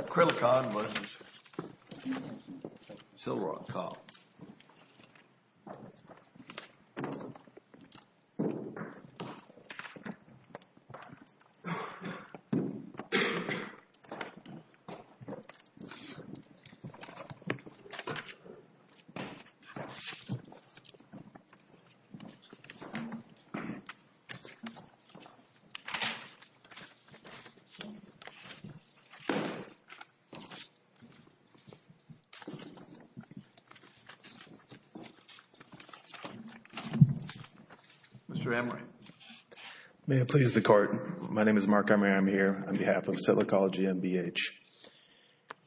Krillicon versus Silroc Cop. Mr. Emory, may it please the Court, my name is Mark Emory, I'm here on behalf of Silricology and BH.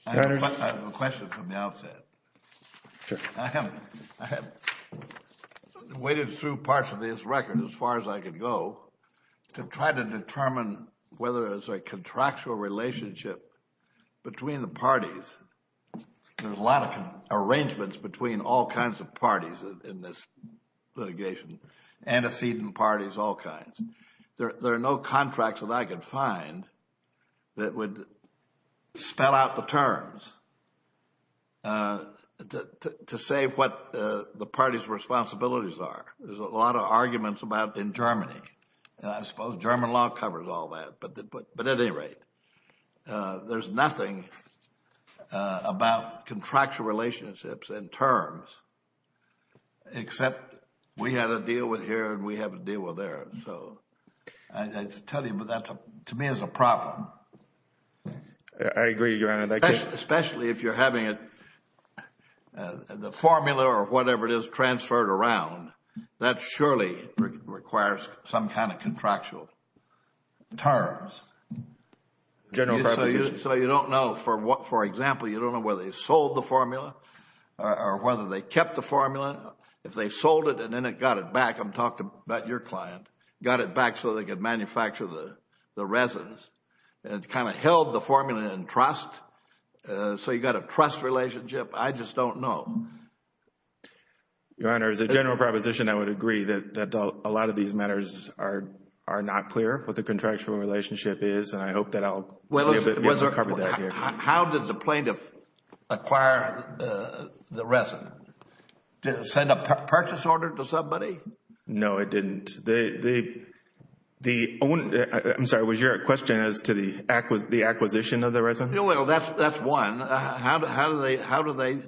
I have a question from the outset. Sure. I have waded through parts of this record, as far as I could go, to try to determine whether there's a contractual relationship between the parties, there's a lot of arrangements between all kinds of parties in this litigation, antecedent parties, all kinds. There are no contracts that I could find that would spell out the terms, to say what the parties' responsibilities are. There's a lot of arguments about in Germany, and I suppose German law covers all that, but at any rate, there's nothing about contractual relationships and terms, except we had a deal with here and we have a deal with there, so I tell you, that to me is a problem. I agree, Your Honor. Especially if you're having it, the formula or whatever it is, transferred around, that surely requires some kind of contractual terms. So you don't know, for example, you don't know whether they sold the formula or whether they kept the formula, if they sold it and then it got it back, I'm talking about your client, got it back so they could manufacture the resins, and kind of held the formula in trust, so you've got a trust relationship. I just don't know. Your Honor, as a general proposition, I would agree that a lot of these matters are not clear, what the contractual relationship is, and I hope that I'll be able to cover that here. How did the plaintiff acquire the resin? Did it send a purchase order to somebody? No, it didn't. I'm sorry, was your question as to the acquisition of the resin? That's one. How do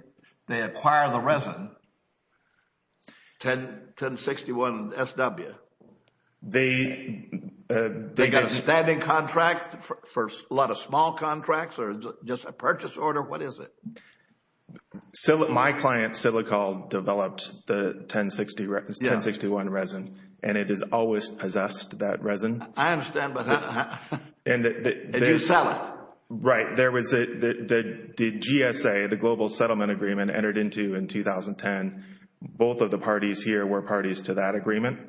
they acquire the resin, 1061 SW? They got a standing contract for a lot of small contracts or just a purchase order? What is it? My client, Silicol, developed the 1061 resin, and it has always possessed that resin. I understand, but did you sell it? Right. There was the GSA, the Global Settlement Agreement, entered into in 2010. Both of the parties here were parties to that agreement.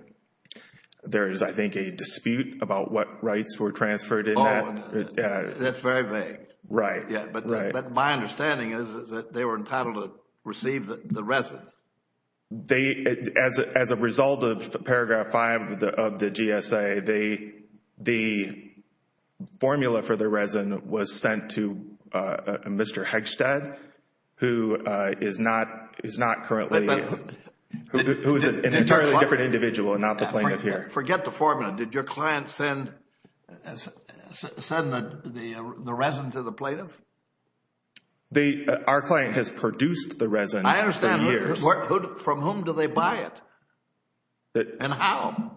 There is, I think, a dispute about what rights were transferred in that. That's very vague. Right. But my understanding is that they were entitled to receive the resin. As a result of paragraph 5 of the GSA, the formula for the resin was sent to Mr. Hegstad, who is an entirely different individual and not the plaintiff here. Forget the formula. Did your client send the resin to the plaintiff? Our client has produced the resin for years. From whom do they buy it, and how?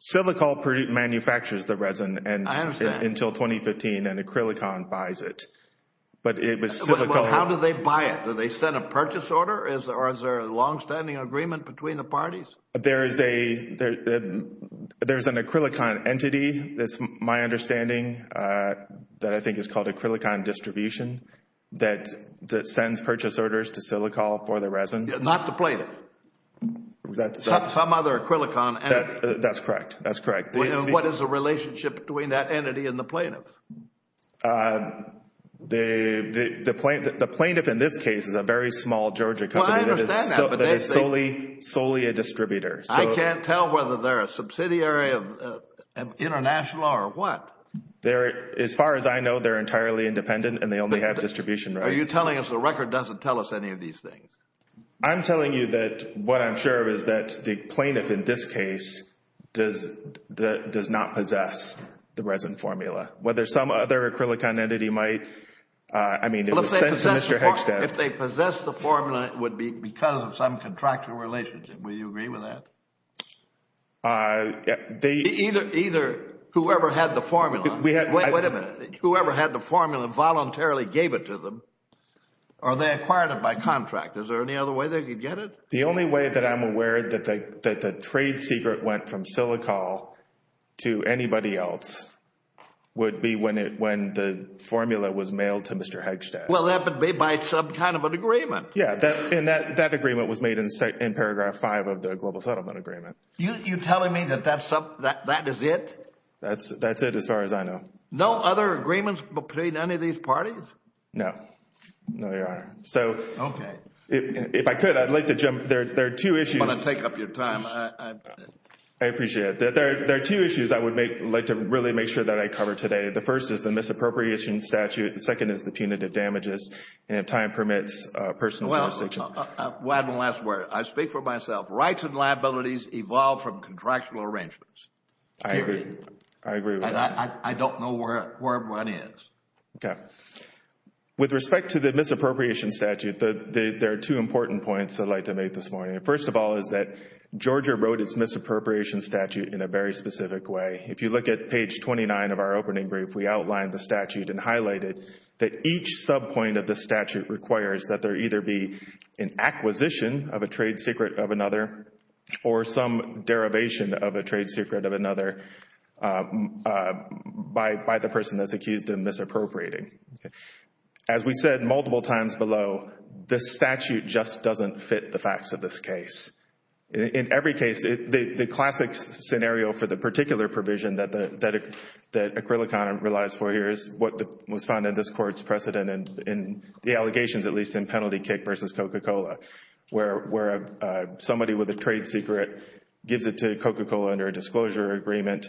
Silicol manufactures the resin until 2015, and Acrylicon buys it. But how do they buy it? Do they send a purchase order, or is there a longstanding agreement between the parties? There is an Acrylicon entity, that's my understanding, that I think is called Acrylicon Distribution, that sends purchase orders to Silicol for the resin. Not the plaintiff? Some other Acrylicon entity? That's correct. That's correct. What is the relationship between that entity and the plaintiff? The plaintiff in this case is a very small Georgia company that is solely a distributor. I can't tell whether they're a subsidiary of International or what. As far as I know, they're entirely independent and they only have distribution rights. Are you telling us the record doesn't tell us any of these things? I'm telling you that what I'm sure of is that the plaintiff in this case does not possess the resin formula. Whether some other Acrylicon entity might, I mean, it was sent to Mr. Hickstead. If they possess the formula, it would be because of some contractual relationship. Would you agree with that? Either whoever had the formula, wait a minute, whoever had the formula voluntarily gave it to them, or they acquired it by contract. Is there any other way they could get it? The only way that I'm aware that the trade secret went from Silicol to anybody else would be when the formula was mailed to Mr. Hickstead. Well, that would be by some kind of an agreement. Yeah, and that agreement was made in paragraph five of the Global Settlement Agreement. You're telling me that that is it? That's it as far as I know. No, Your Honor. Okay. If I could, I'd like to jump, there are two issues. I'm going to take up your time. I appreciate it. There are two issues I would like to really make sure that I cover today. The first is the misappropriation statute, the second is the punitive damages, and if time permits, personal jurisdiction. Well, I have one last word. I speak for myself. Rights and liabilities evolve from contractual arrangements. I agree. I agree with that. I don't know where everyone is. Okay. With respect to the misappropriation statute, there are two important points I'd like to make this morning. First of all is that Georgia wrote its misappropriation statute in a very specific way. If you look at page 29 of our opening brief, we outlined the statute and highlighted that each subpoint of the statute requires that there either be an acquisition of a trade secret of another or some derivation of a trade secret of another by the person that's misappropriating. As we said multiple times below, the statute just doesn't fit the facts of this case. In every case, the classic scenario for the particular provision that Acrylicon relies for here is what was found in this court's precedent in the allegations, at least in penalty kick versus Coca-Cola, where somebody with a trade secret gives it to Coca-Cola under a disclosure agreement,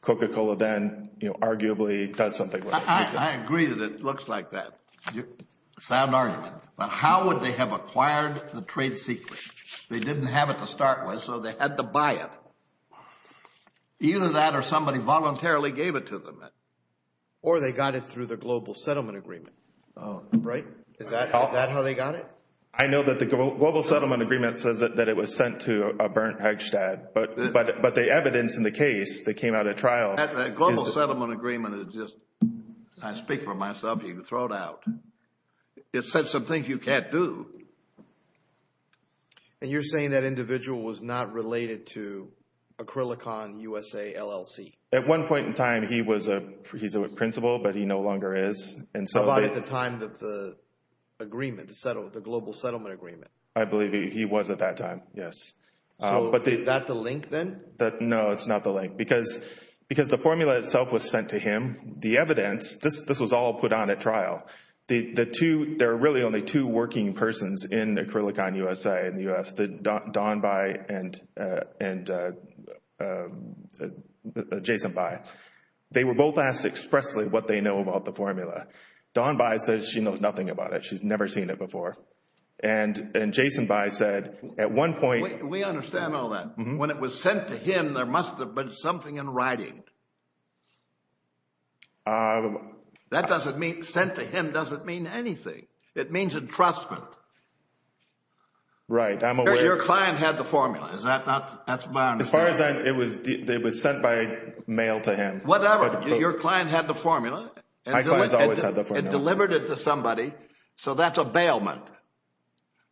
Coca-Cola then arguably does something with it. I agree that it looks like that. It's a sound argument, but how would they have acquired the trade secret? They didn't have it to start with, so they had to buy it. Either that or somebody voluntarily gave it to them. Or they got it through the Global Settlement Agreement, right? Is that how they got it? I know that the Global Settlement Agreement says that it was sent to a burnt Eichstatt, but the evidence in the case that came out at trial is- That Global Settlement Agreement is just, I speak for myself, you can throw it out. It said some things you can't do. You're saying that individual was not related to Acrylicon USA LLC? At one point in time, he was a principal, but he no longer is. How about at the time of the agreement, the Global Settlement Agreement? I believe he was at that time, yes. Is that the link then? No, it's not the link. Because the formula itself was sent to him, the evidence, this was all put on at trial. There are really only two working persons in Acrylicon USA in the US, Don Bai and Jason Bai. They were both asked expressly what they know about the formula. Don Bai says she knows nothing about it. She's never seen it before. And Jason Bai said, at one point- We understand all that. When it was sent to him, there must have been something in writing. That doesn't mean, sent to him doesn't mean anything. It means entrustment. Right, I'm aware- Your client had the formula. Is that not, that's my understanding. As far as that, it was sent by mail to him. Whatever, your client had the formula. My client always had the formula. It delivered it to somebody, so that's a bailment.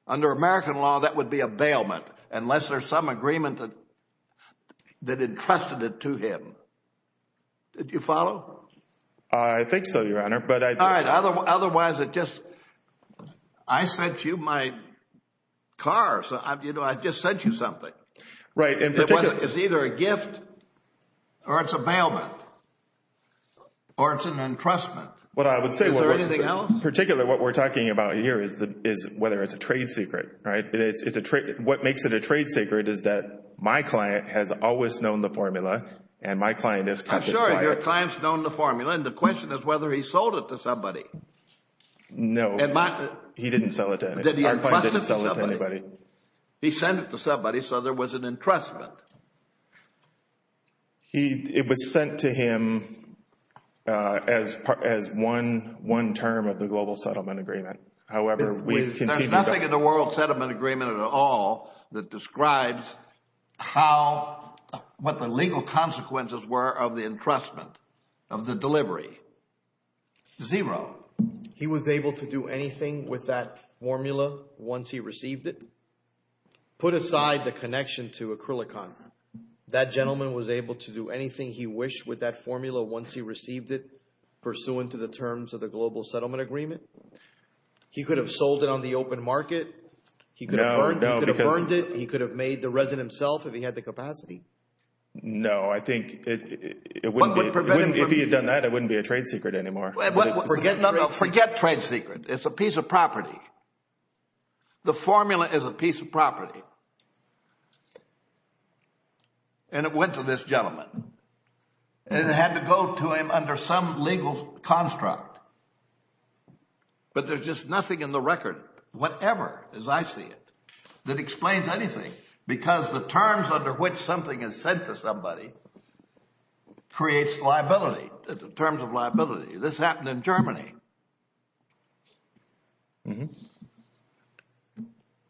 Under American law, that would be a bailment, unless there's some agreement that entrusted it to him. Did you follow? I think so, Your Honor, but I- All right, otherwise it just, I sent you my car, so I just sent you something. Right, in particular- It's either a gift or it's a bailment or it's an entrustment. What I would say- Is there anything else? In particular, what we're talking about here is whether it's a trade secret, right? What makes it a trade secret is that my client has always known the formula and my client has- I'm sure your client's known the formula, and the question is whether he sold it to somebody. No, he didn't sell it to anybody. Did he entrust it to somebody? He sent it to somebody, so there was an entrustment. It was sent to him as one term of the Global Settlement Agreement. However, we've continued- There's nothing in the World Settlement Agreement at all that describes how, what the legal consequences were of the entrustment, of the delivery. Zero. He was able to do anything with that formula once he received it? Put aside the connection to Acrylicon. That gentleman was able to do anything he wished with that formula once he received it, pursuant to the terms of the Global Settlement Agreement? He could have sold it on the open market. He could have burned it. He could have made the resin himself if he had the capacity. No, I think it wouldn't be- What would prevent him from- If he had done that, it wouldn't be a trade secret anymore. No, no, forget trade secret. It's a piece of property. The formula is a piece of property. And it went to this gentleman. It had to go to him under some legal construct. But there's just nothing in the record, whatever, as I see it, that explains anything. Because the terms under which something is sent to somebody creates liability, terms of liability. This happened in Germany.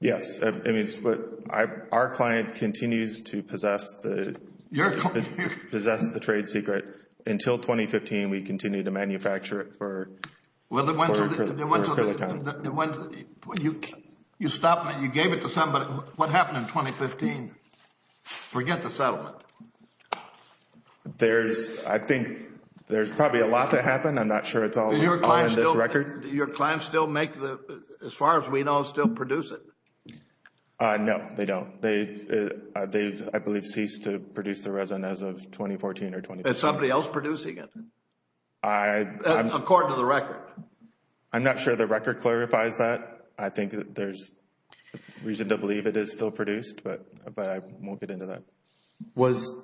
Yes, I mean, our client continues to possess the trade secret. Until 2015, we continue to manufacture it for Acrylicon. You stopped it. You gave it to somebody. What happened in 2015? Forget the settlement. There's, I think, there's probably a lot to happen. I'm not sure it's all in this record. Do your clients still make the, as far as we know, still produce it? No, they don't. They've, I believe, ceased to produce the resin as of 2014 or 2015. Is somebody else producing it? According to the record. I'm not sure the record clarifies that. I think there's reason to believe it is still produced, but I won't get into that. Was,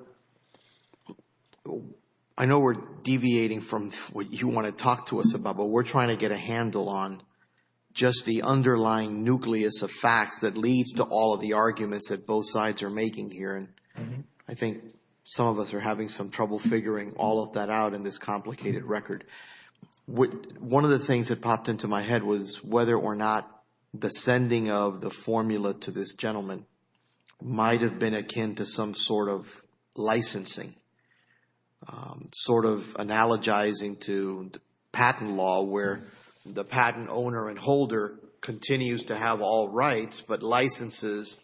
I know we're deviating from what you want to talk to us about, but we're trying to get a handle on just the underlying nucleus of facts that leads to all of the arguments that both sides are making here. I think some of us are having some trouble figuring all of that out in this complicated record. One of the things that popped into my head was whether or not the sending of the formula to this gentleman might have been akin to some sort of licensing, sort of analogizing to patent law where the patent owner and holder continues to have all rights, but licenses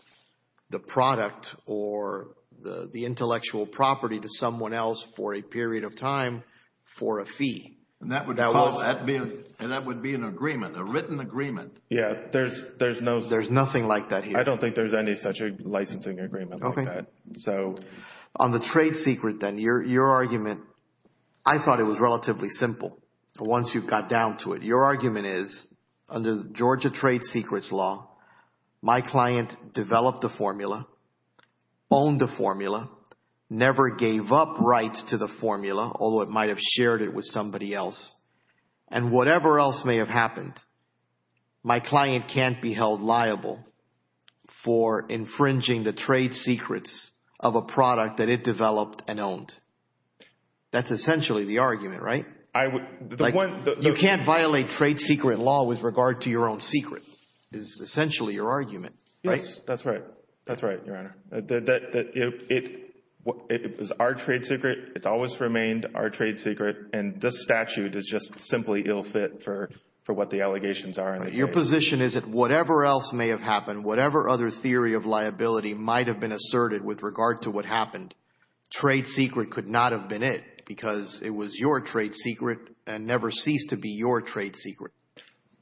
the product or the intellectual property to someone else for a period of time for a fee. And that would be an agreement, a written agreement. Yeah, there's no... I don't think there's any such a licensing agreement like that. So on the trade secret, then your argument, I thought it was relatively simple. Once you got down to it, your argument is under Georgia trade secrets law, my client developed a formula, owned a formula, never gave up rights to the formula, although it might've shared it with somebody else. And whatever else may have happened, my client can't be held liable for infringing the trade secrets of a product that it developed and owned. That's essentially the argument, right? You can't violate trade secret law with regard to your own secret, is essentially your argument, right? Yes, that's right. That's right, Your Honor. It was our trade secret. It's always remained our trade secret. And this statute is just simply ill fit for what the allegations are. Your position is that whatever else may have happened, whatever other theory of liability might've been asserted with regard to what happened, trade secret could not have been it because it was your trade secret and never ceased to be your trade secret.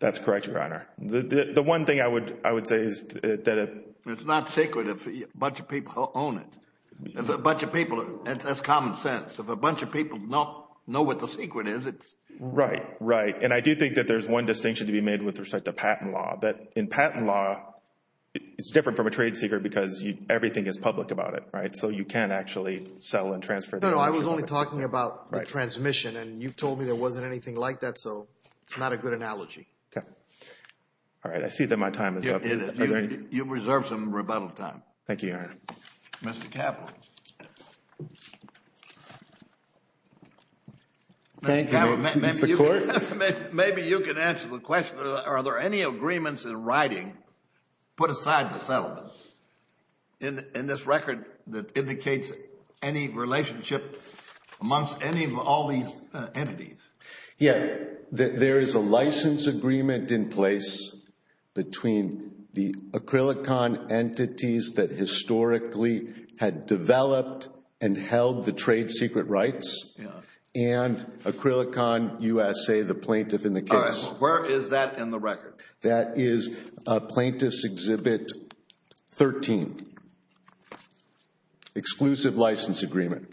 That's correct, Your Honor. The one thing I would say is that... It's not secret if a bunch of people own it. If a bunch of people, that's common sense. If a bunch of people don't know what the secret is, it's... Right, right. And I do think that there's one distinction to be made with respect to patent law, that in patent law, it's different from a trade secret because everything is public about it, right? So you can't actually sell and transfer... No, no, I was only talking about the transmission and you've told me there wasn't anything like that, so it's not a good analogy. Okay. All right, I see that my time is up. You've reserved some rebuttal time. Thank you, Your Honor. Mr. Kaplan. Thank you, Mr. Court. Maybe you can answer the question, are there any agreements in writing put aside the settlements in this record that indicates any relationship amongst any of all these entities? Yeah, there is a license agreement in place between the Acrylicon entities that historically had developed and held the trade secret rights and Acrylicon USA, the plaintiff in the case. Where is that in the record? That is Plaintiff's Exhibit 13. Exclusive license agreement.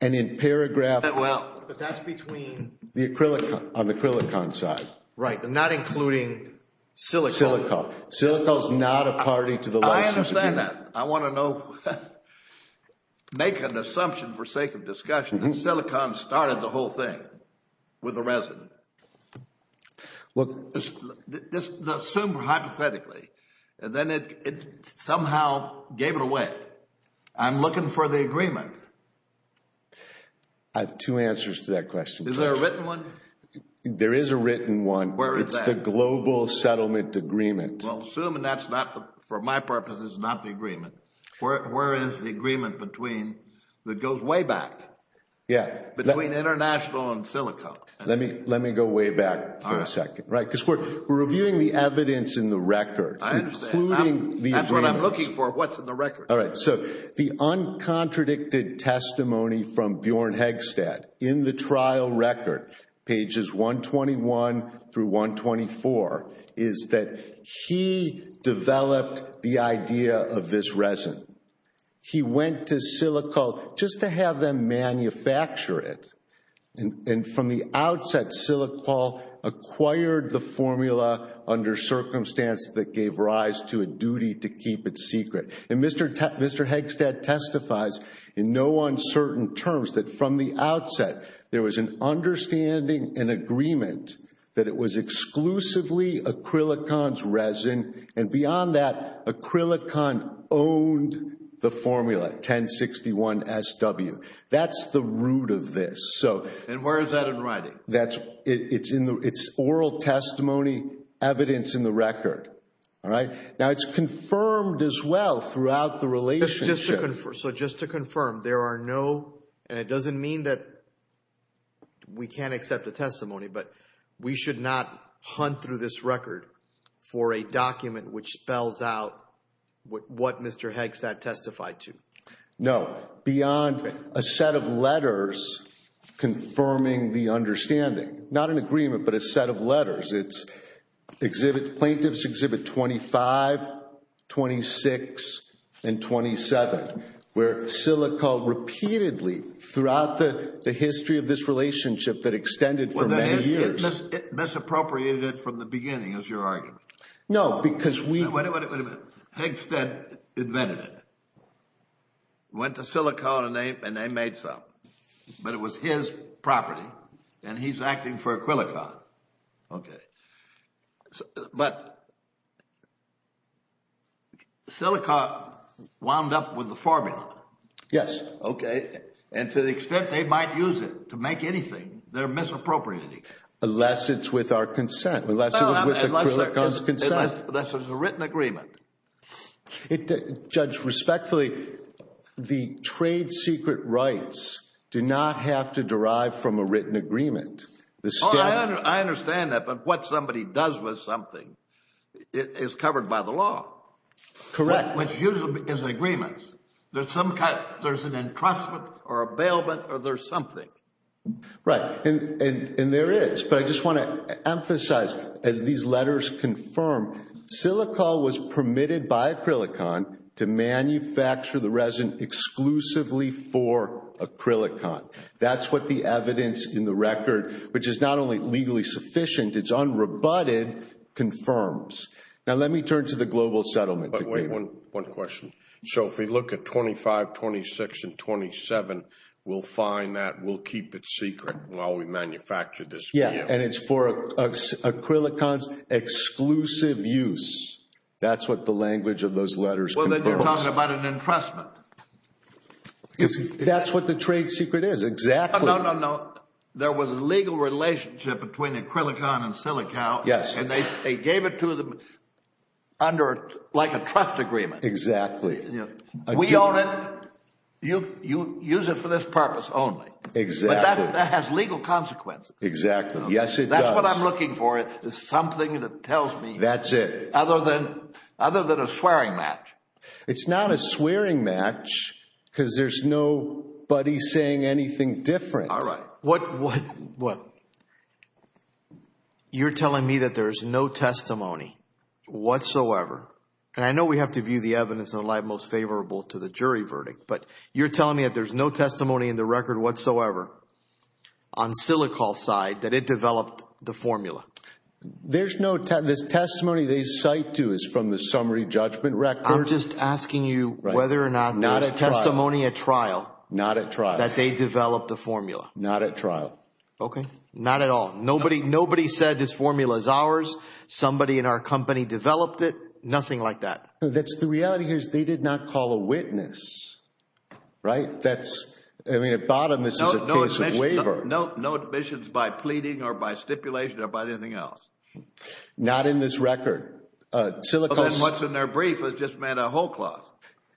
And in paragraph... Well, that's between... The Acrylicon, on the Acrylicon side. Right, and not including Silicone. Silicone. Silicone is not a party to the license agreement. I understand that. I want to know, make an assumption for sake of discussion. Silicone started the whole thing with the resident. Look, assume hypothetically, and then it somehow gave it away. I'm looking for the agreement. I have two answers to that question. Is there a written one? There is a written one. Where is that? It's the Global Settlement Agreement. Well, assuming that's not, for my purposes, not the agreement. Where is the agreement between, that goes way back? Yeah. Between International and Silicone. Let me go way back for a second. Right, because we're reviewing the evidence in the record. I understand. Including the agreements. That's what I'm looking for, what's in the record. All right, so the uncontradicted testimony from Bjorn Hegstad in the trial record, pages 121 through 124, is that he developed the idea of this resident. He went to Silicol just to have them manufacture it. And from the outset, Silicol acquired the formula under circumstance that gave rise to a duty to keep it secret. And Mr. Hegstad testifies in no uncertain terms that from the outset, there was an understanding, an agreement, that it was exclusively Acrylicon's resin. And beyond that, Acrylicon owned the formula, 1061 SW. That's the root of this. So. And where is that in writing? That's, it's oral testimony, evidence in the record. All right. Now it's confirmed as well throughout the relationship. So just to confirm, there are no, and it doesn't mean that we can't accept a testimony, but we should not hunt through this record for a document which spells out what Mr. Hegstad testified to. No, beyond a set of letters confirming the understanding. It's exhibit, plaintiff's exhibit 25, 26, and 27, where Silicol repeatedly throughout the history of this relationship that extended for many years. It misappropriated it from the beginning, is your argument? No, because we. Wait a minute, wait a minute. Hegstad invented it. Went to Silicon and they made some. But it was his property and he's acting for Acrylicon. Okay. But. Silicon wound up with the formula. Yes. Okay. And to the extent they might use it to make anything, they're misappropriating it. Unless it's with our consent. Unless it was with Acrylicon's consent. Unless it was a written agreement. Judge, respectfully, the trade secret rights do not have to derive from a written agreement. The state. I understand that. But what somebody does with something is covered by the law. Correct. Which usually is agreements. There's some kind. There's an entrustment or a bailment or there's something. Right, and there is. But I just want to emphasize, as these letters confirm, Silicol was permitted by Acrylicon to manufacture the resin exclusively for Acrylicon. That's what the evidence in the record, which is not only legally sufficient, it's unrebutted, confirms. Now let me turn to the global settlement. But wait, one question. So if we look at 25, 26, and 27, we'll find that. We'll keep it secret while we manufacture this. Yeah, and it's for Acrylicon's exclusive use. That's what the language of those letters. Well, then you're talking about an entrustment. That's what the trade secret is. No, no, no. There was a legal relationship between Acrylicon and Silicol. Yes. And they gave it to them under like a trust agreement. Exactly. We own it. You use it for this purpose only. Exactly. But that has legal consequences. Exactly. Yes, it does. That's what I'm looking for. It is something that tells me. That's it. Other than other than a swearing match. It's not a swearing match because there's nobody saying anything different. All right. What, what, what? You're telling me that there's no testimony whatsoever. And I know we have to view the evidence in the light most favorable to the jury verdict. But you're telling me that there's no testimony in the record whatsoever on Silicol's side that it developed the formula. There's no testimony they cite to is from the summary judgment record. We're just asking you whether or not there's testimony at trial. Not at trial. That they developed the formula. Not at trial. Okay. Not at all. Nobody, nobody said this formula is ours. Somebody in our company developed it. Nothing like that. That's the reality here is they did not call a witness. Right. That's, I mean, at bottom, this is a case of waiver. No, no admissions by pleading or by stipulation or by anything else. Not in this record. What's in their brief? It just meant a whole clause.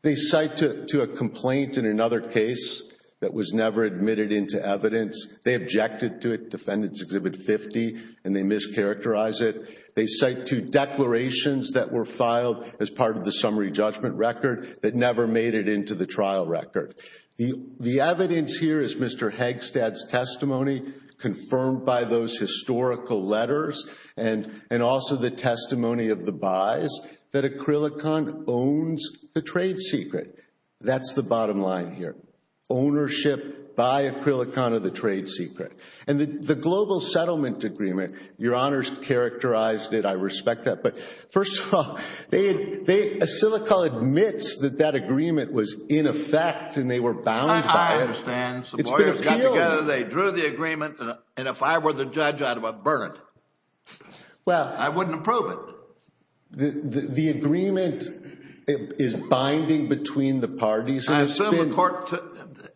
They cite to a complaint in another case that was never admitted into evidence. They objected to it. Defendants exhibit 50 and they mischaracterize it. They cite two declarations that were filed as part of the summary judgment record that never made it into the trial record. The evidence here is Mr. Hagstad's testimony confirmed by those historical letters and also the testimony of the buys that Acrylicon owns the trade secret. That's the bottom line here. Ownership by Acrylicon of the trade secret. And the global settlement agreement, your honors characterized it. I respect that. But first of all, Acilicol admits that that agreement was in effect and they were bound by it. I understand. Some lawyers got together. They drew the agreement. And if I were the judge, I'd burn it. I wouldn't approve it. The agreement is binding between the parties. I assume the court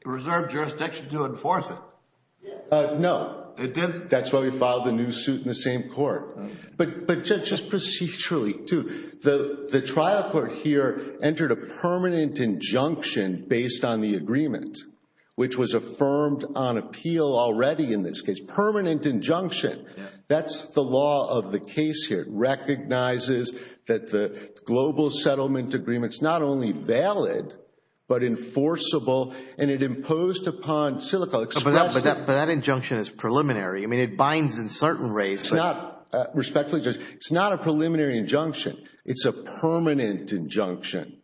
reserved jurisdiction to enforce it. No, that's why we filed a new suit in the same court. But just procedurally too. Which was affirmed on appeal already in this case. Permanent injunction. That's the law of the case here. It recognizes that the global settlement agreement is not only valid, but enforceable. And it imposed upon Acilicol. But that injunction is preliminary. I mean, it binds in certain ways. It's not, respectfully, it's not a preliminary injunction. It's a permanent injunction.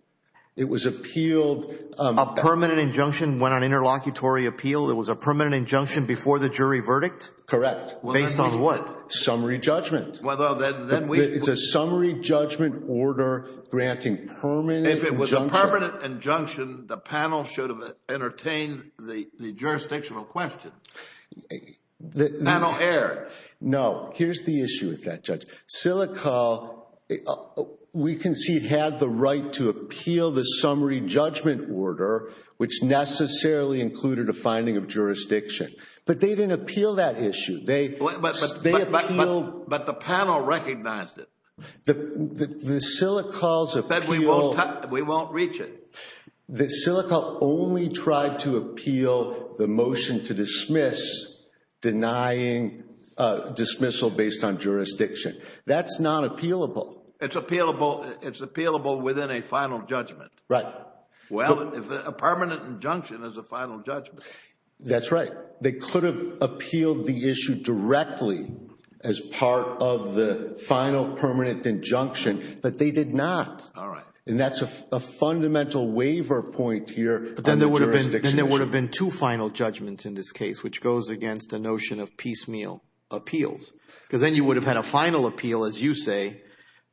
It was appealed. A permanent injunction went on interlocutory appeal. It was a permanent injunction before the jury verdict? Correct. Based on what? Summary judgment. It's a summary judgment order granting permanent injunction. If it was a permanent injunction, the panel should have entertained the jurisdictional question. Panel error. No, here's the issue with that, Judge. Acilicol, we can see, had the right to appeal the summary judgment order, which necessarily included a finding of jurisdiction. But they didn't appeal that issue. But the panel recognized it. We won't reach it. The Acilicol only tried to appeal the motion to dismiss denying dismissal based on jurisdiction. That's not appealable. It's appealable. It's appealable within a final judgment. Right. Well, if a permanent injunction is a final judgment. That's right. They could have appealed the issue directly as part of the final permanent injunction, but they did not. All right. And that's a fundamental waiver point here. But then there would have been two final judgments in this case, which goes against the notion of piecemeal appeals. Because then you would have had a final appeal, as you say,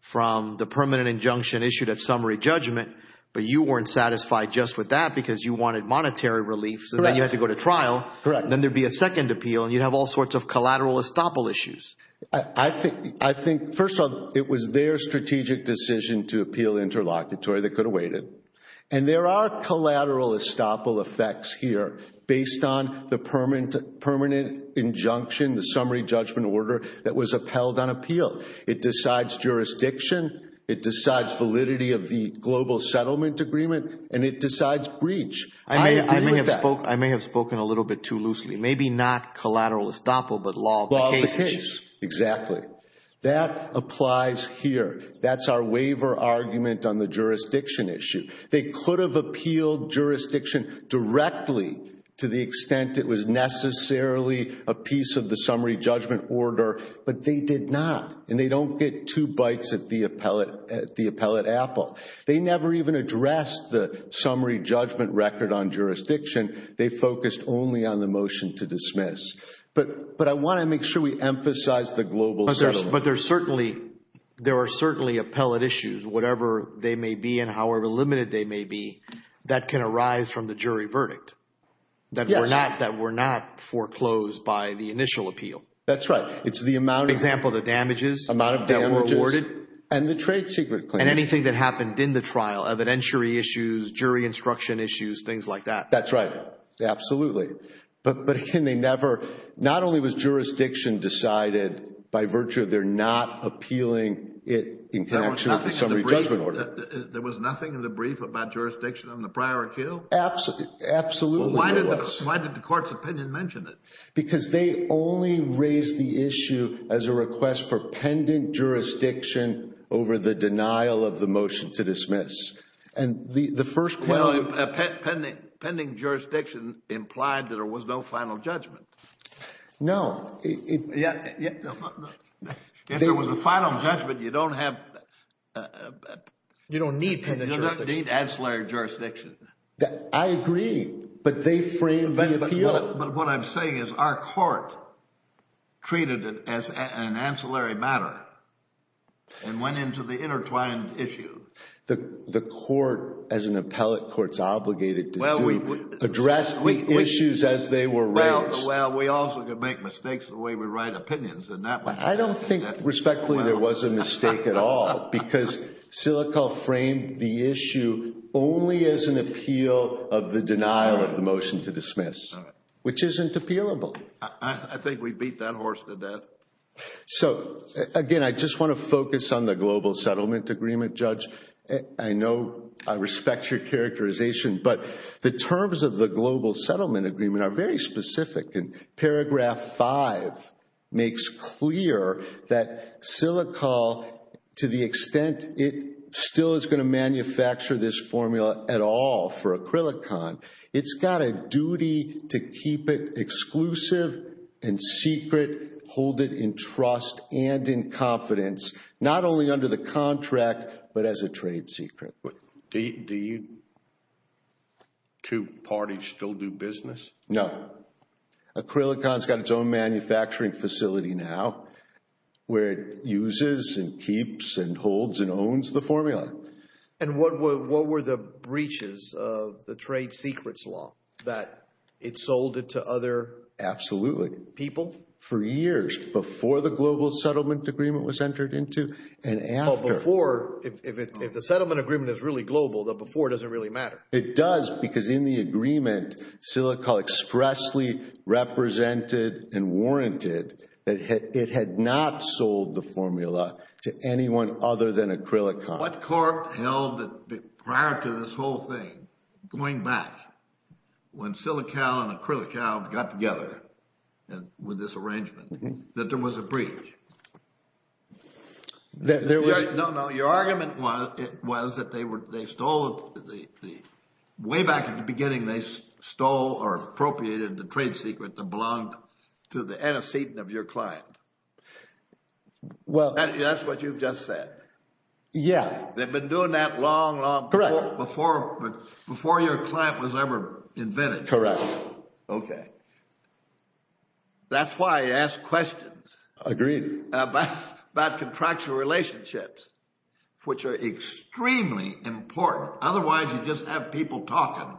from the permanent injunction issued at summary judgment. But you weren't satisfied just with that because you wanted monetary relief. So then you had to go to trial. Correct. Then there'd be a second appeal and you'd have all sorts of collateral estoppel issues. I think, first of all, it was their strategic decision to appeal interlocutory that could have waited. And there are collateral estoppel effects here based on the permanent injunction, the summary judgment order that was upheld on appeal. It decides jurisdiction. It decides validity of the global settlement agreement. And it decides breach. I may have spoken a little bit too loosely. Maybe not collateral estoppel, but law of the case. Exactly. That applies here. That's our waiver argument on the jurisdiction issue. They could have appealed jurisdiction directly to the extent it was necessarily a piece of the summary judgment order, but they did not. And they don't get two bites at the appellate apple. They never even addressed the summary judgment record on jurisdiction. They focused only on the motion to dismiss. But I want to make sure we emphasize the global settlement. But there are certainly appellate issues, whatever they may be and however limited they may be, that can arise from the jury verdict. That were not foreclosed by the initial appeal. That's right. It's the amount of damages that were awarded and the trade secret claim. And anything that happened in the trial, evidentiary issues, jury instruction issues, things like that. That's right. Absolutely. But not only was jurisdiction decided by virtue of their not appealing it in connection with the summary judgment order. There was nothing in the brief about jurisdiction on the prior appeal? Absolutely. Why did the court's opinion mention it? Because they only raised the issue as a request for pendant jurisdiction over the denial of the motion to dismiss. And the first... Well, pending jurisdiction implied that there was no final judgment. No. If there was a final judgment, you don't have... You don't need pending jurisdiction. You don't need ancillary jurisdiction. I agree. But they framed the appeal. But what I'm saying is our court treated it as an ancillary matter and went into the intertwined issue. The court, as an appellate court's obligated to do, addressed the issues as they were raised. Well, we also could make mistakes the way we write opinions. I don't think respectfully there was a mistake at all because Silico framed the issue only as an appeal of the denial of the motion to dismiss, which isn't appealable. I think we beat that horse to death. So again, I just want to focus on the global settlement agreement, Judge. I know I respect your characterization, but the terms of the global settlement agreement are very specific. And paragraph five makes clear that Silico, to the extent it still is going to manufacture this formula at all for Acrylicon, it's got a duty to keep it exclusive and secret, hold it in trust and in confidence, not only under the contract, but as a trade secret. Do two parties still do business? No. Acrylicon's got its own manufacturing facility now where it uses and keeps and holds and owns the formula. And what were the breaches of the trade secrets law that it sold it to other? Absolutely. People? For years before the global settlement agreement was entered into and after. Well, before, if the settlement agreement is really global, the before doesn't really matter. It does because in the agreement, Silico expressly represented and warranted that it had not sold the formula to anyone other than Acrylicon. What court held that prior to this whole thing, going back when Silico and Acrylicon got together with this arrangement, that there was a breach? No, no. Your argument was that way back at the beginning, they stole or appropriated the trade secret that belonged to the antecedent of your client. Well. That's what you've just said. Yeah. They've been doing that long, long before your client was ever invented. Correct. Okay. That's why I ask questions. Agreed. About contractual relationships, which are extremely important. Otherwise, you just have people talking.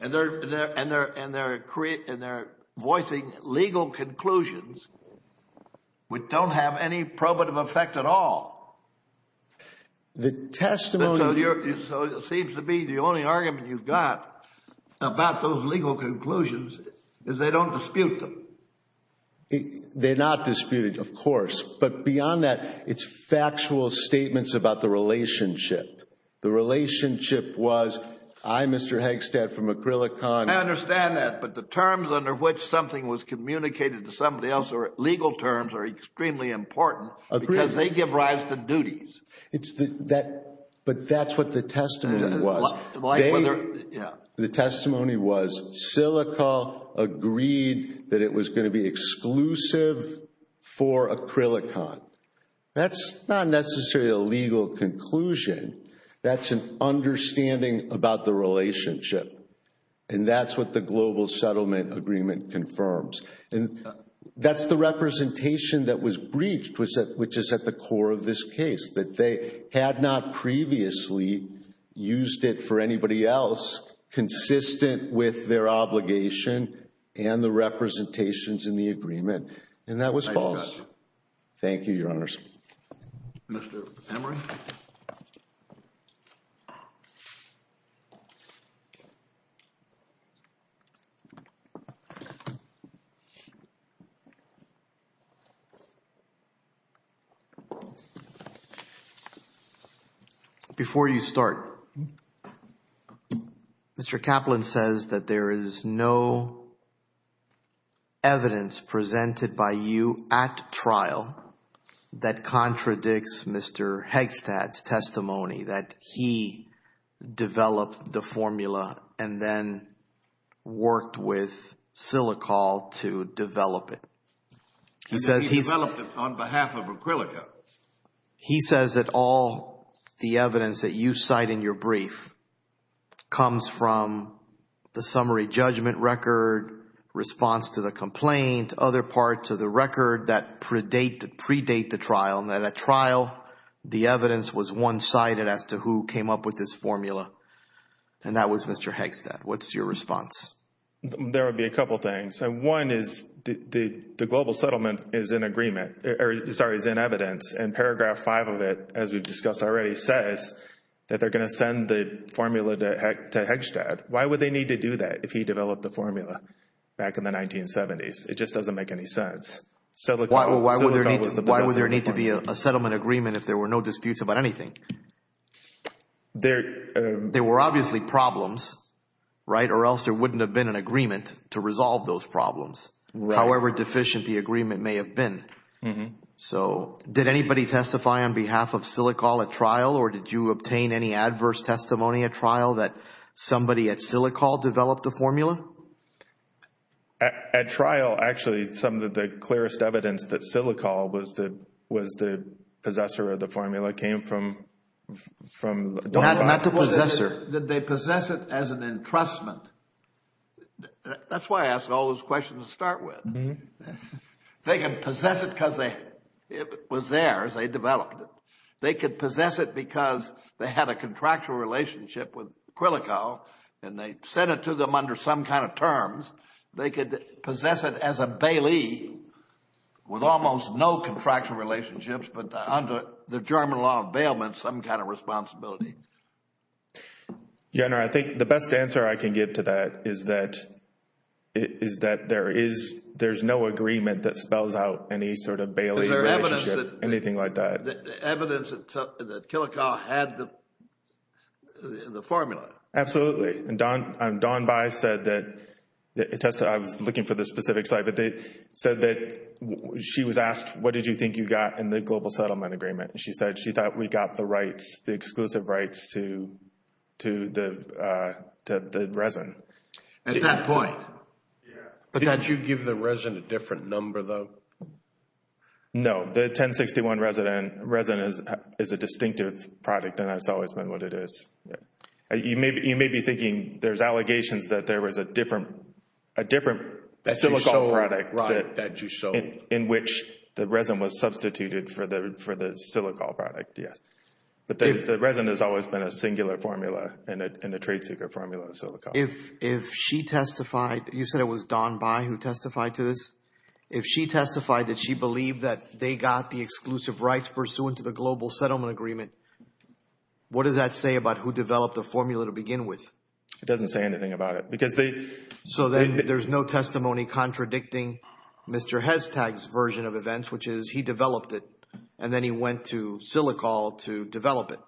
And they're voicing legal conclusions, which don't have any probative effect at all. The testimony. So it seems to be the only argument you've got about those legal conclusions is they don't dispute them. They're not disputed, of course. But beyond that, it's factual statements about the relationship. The relationship was, I, Mr. Haigstad from Acrylicon. I understand that. But the terms under which something was communicated to somebody else or legal terms are extremely important because they give rise to duties. But that's what the testimony was. The testimony was Silico agreed that it was going to be exclusive for Acrylicon. That's not necessarily a legal conclusion. That's an understanding about the relationship. And that's what the Global Settlement Agreement confirms. And that's the representation that was breached, which is at the core of this case, that they had not previously used it for anybody else consistent with their obligation and the representations in the agreement. And that was false. Thank you, Your Honor. Mr. Emery. Before you start, Mr. Kaplan says that there is no evidence presented by you at trial that contradicts Mr. Haigstad's testimony that he developed the formula and then worked with Silicol to develop it. He says he developed it on behalf of Acrylicon. He says that all the evidence that you cite in your brief comes from the summary judgment record, response to the complaint, other parts of the record that predate the trial, and that at trial, the evidence was one-sided as to who came up with this formula. And that was Mr. Haigstad. What's your response? There would be a couple of things. One is the Global Settlement is in agreement, or sorry, is in evidence. And paragraph five of it, as we've discussed already, says that they're going to send the formula to Haigstad. Why would they need to do that if he developed the formula back in the 1970s? It just doesn't make any sense. Why would there need to be a settlement agreement if there were no disputes about anything? There were obviously problems, right? Or else there wouldn't have been an agreement to resolve those problems, however deficient the agreement may have been. So did anybody testify on behalf of Silicol at trial? Or did you obtain any adverse testimony at trial that somebody at Silicol developed the formula? At trial, actually, some of the clearest evidence that Silicol was the possessor of the formula came from... Not the possessor. They possess it as an entrustment. That's why I asked all those questions to start with. They can possess it because it was theirs. They developed it. They could possess it because they had a contractual relationship with Quilico and they sent it to them under some kind of terms. They could possess it as a bailee with almost no contractual relationships, but under the German law of bailment, some kind of responsibility. Your Honor, I think the best answer I can give to that is that there is no agreement that spells out any sort of bailee relationship, anything like that. The evidence that Quilico had the formula. Absolutely. And Dawn Bayh said that... I was looking for the specific site, but they said that she was asked, what did you think you got in the global settlement agreement? She said she thought we got the rights, the exclusive rights to the resident. At that point. But did you give the resident a different number, though? No. The 1061 resident is a distinctive product and that's always been what it is. You may be thinking there's allegations that there was a different silico product in which the resident was substituted for the silico product, yes. But the resident has always been a singular formula and a trade secret formula of silico. If she testified, you said it was Dawn Bayh who testified to this. If she testified that she believed that they got the exclusive rights pursuant to the global settlement agreement, what does that say about who developed the formula to begin with? It doesn't say anything about it. Because they... So then there's no testimony contradicting Mr. Hestag's version of events, which is he developed it and then he went to Silicol to develop it.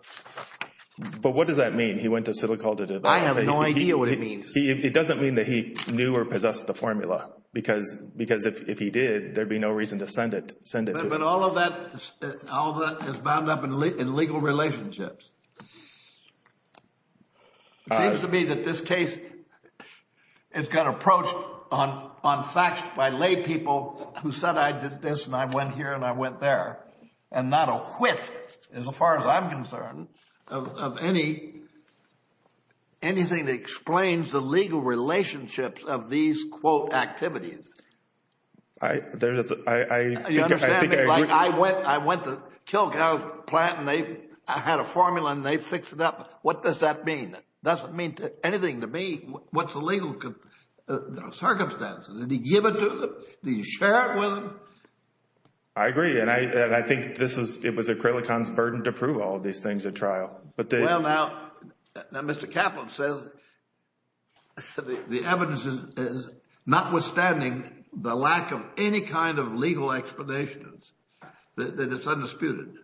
But what does that mean? He went to Silicol to develop it? I have no idea what it means. It doesn't mean that he knew or possessed the formula because if he did, there'd be no reason to send it to him. But all of that is bound up in legal relationships. It seems to me that this case has got approached on facts by laypeople who said, I did this and I went here and I went there. And not a whiff, as far as I'm concerned, of anything that explains the legal relationships of these, quote, activities. I think I agree. I went to Kilgall Plant and they had a formula and they fixed it up. What does that mean? Doesn't mean anything to me. What's the legal circumstances? Did he give it to them? Did he share it with them? I agree. And I think it was Acrylicon's burden to prove all of these things at trial. Well, now, Mr. Kaplan says the evidence is notwithstanding the lack of any kind of legal explanations, that it's undisputed.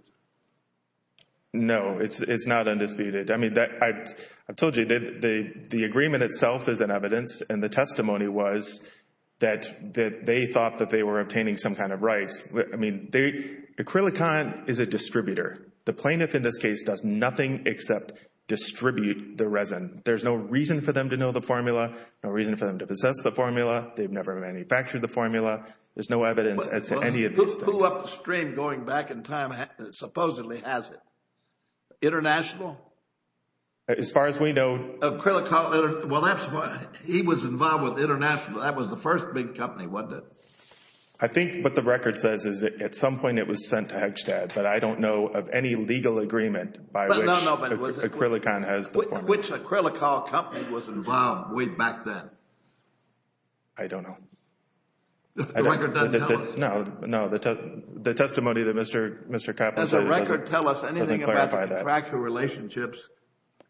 No, it's not undisputed. I mean, I told you, the agreement itself is an evidence and the testimony was that they thought that they were obtaining some kind of rights. I mean, Acrylicon is a distributor. The plaintiff in this case does nothing except distribute the resin. There's no reason for them to know the formula, no reason for them to possess the formula. They've never manufactured the formula. There's no evidence as to any of these things. Who blew up the stream going back in time, supposedly has it? International? As far as we know. Acrylicon, well, that's why he was involved with International. That was the first big company, wasn't it? I think what the record says is that at some point it was sent to Hegstad. But I don't know of any legal agreement by which Acrylicon has the formula. Which Acrylicol company was involved way back then? I don't know. The record doesn't tell us? No, no. The testimony that Mr. Kaplan said doesn't clarify that. Does the record tell us anything about the contractor relationships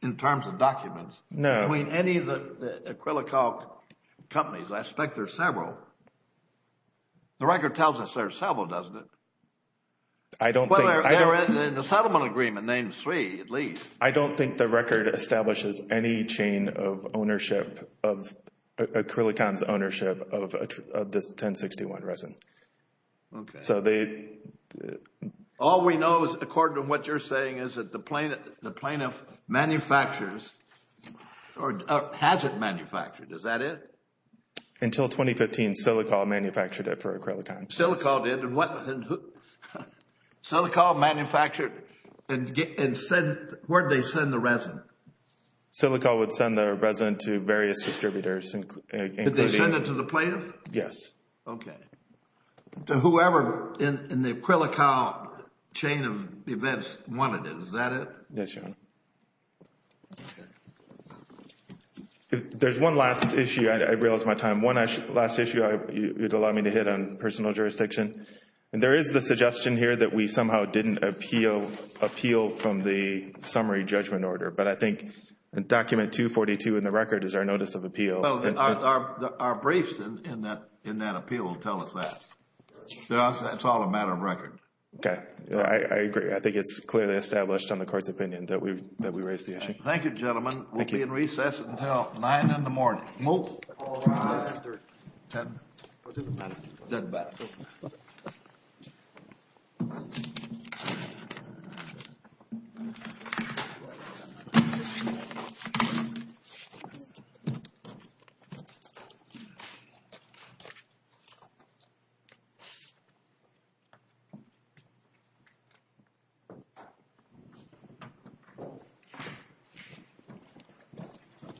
in terms of documents? No. I mean, any of the Acrylicol companies, I expect there are several. The record tells us there are several, doesn't it? I don't think. Well, they're in a settlement agreement named Sui, at least. I don't think the record establishes any chain of ownership, of Acrylicon's ownership of this 1061 resin. So they... All we know is according to what you're saying is that the plaintiff manufactures or has it manufactured. Is that it? Until 2015, Silicol manufactured it for Acrylicon. Silicol did? Silicol manufactured and sent... Where'd they send the resin? Silicol would send their resin to various distributors. Did they send it to the plaintiff? Yes. Okay. To whoever in the Acrylicol chain of events wanted it. Is that it? Yes, Your Honor. Okay. There's one last issue. I realized my time. One last issue you'd allow me to hit on personal jurisdiction. And there is the suggestion here that we somehow didn't appeal from the summary judgment order. But I think document 242 in the record is our notice of appeal. Our briefs in that appeal tell us that. It's all a matter of record. Okay, I agree. I think it's clearly established on the court's opinion that we raised the issue. Thank you, gentlemen. We'll be in recess until nine in the morning. Move. Okay.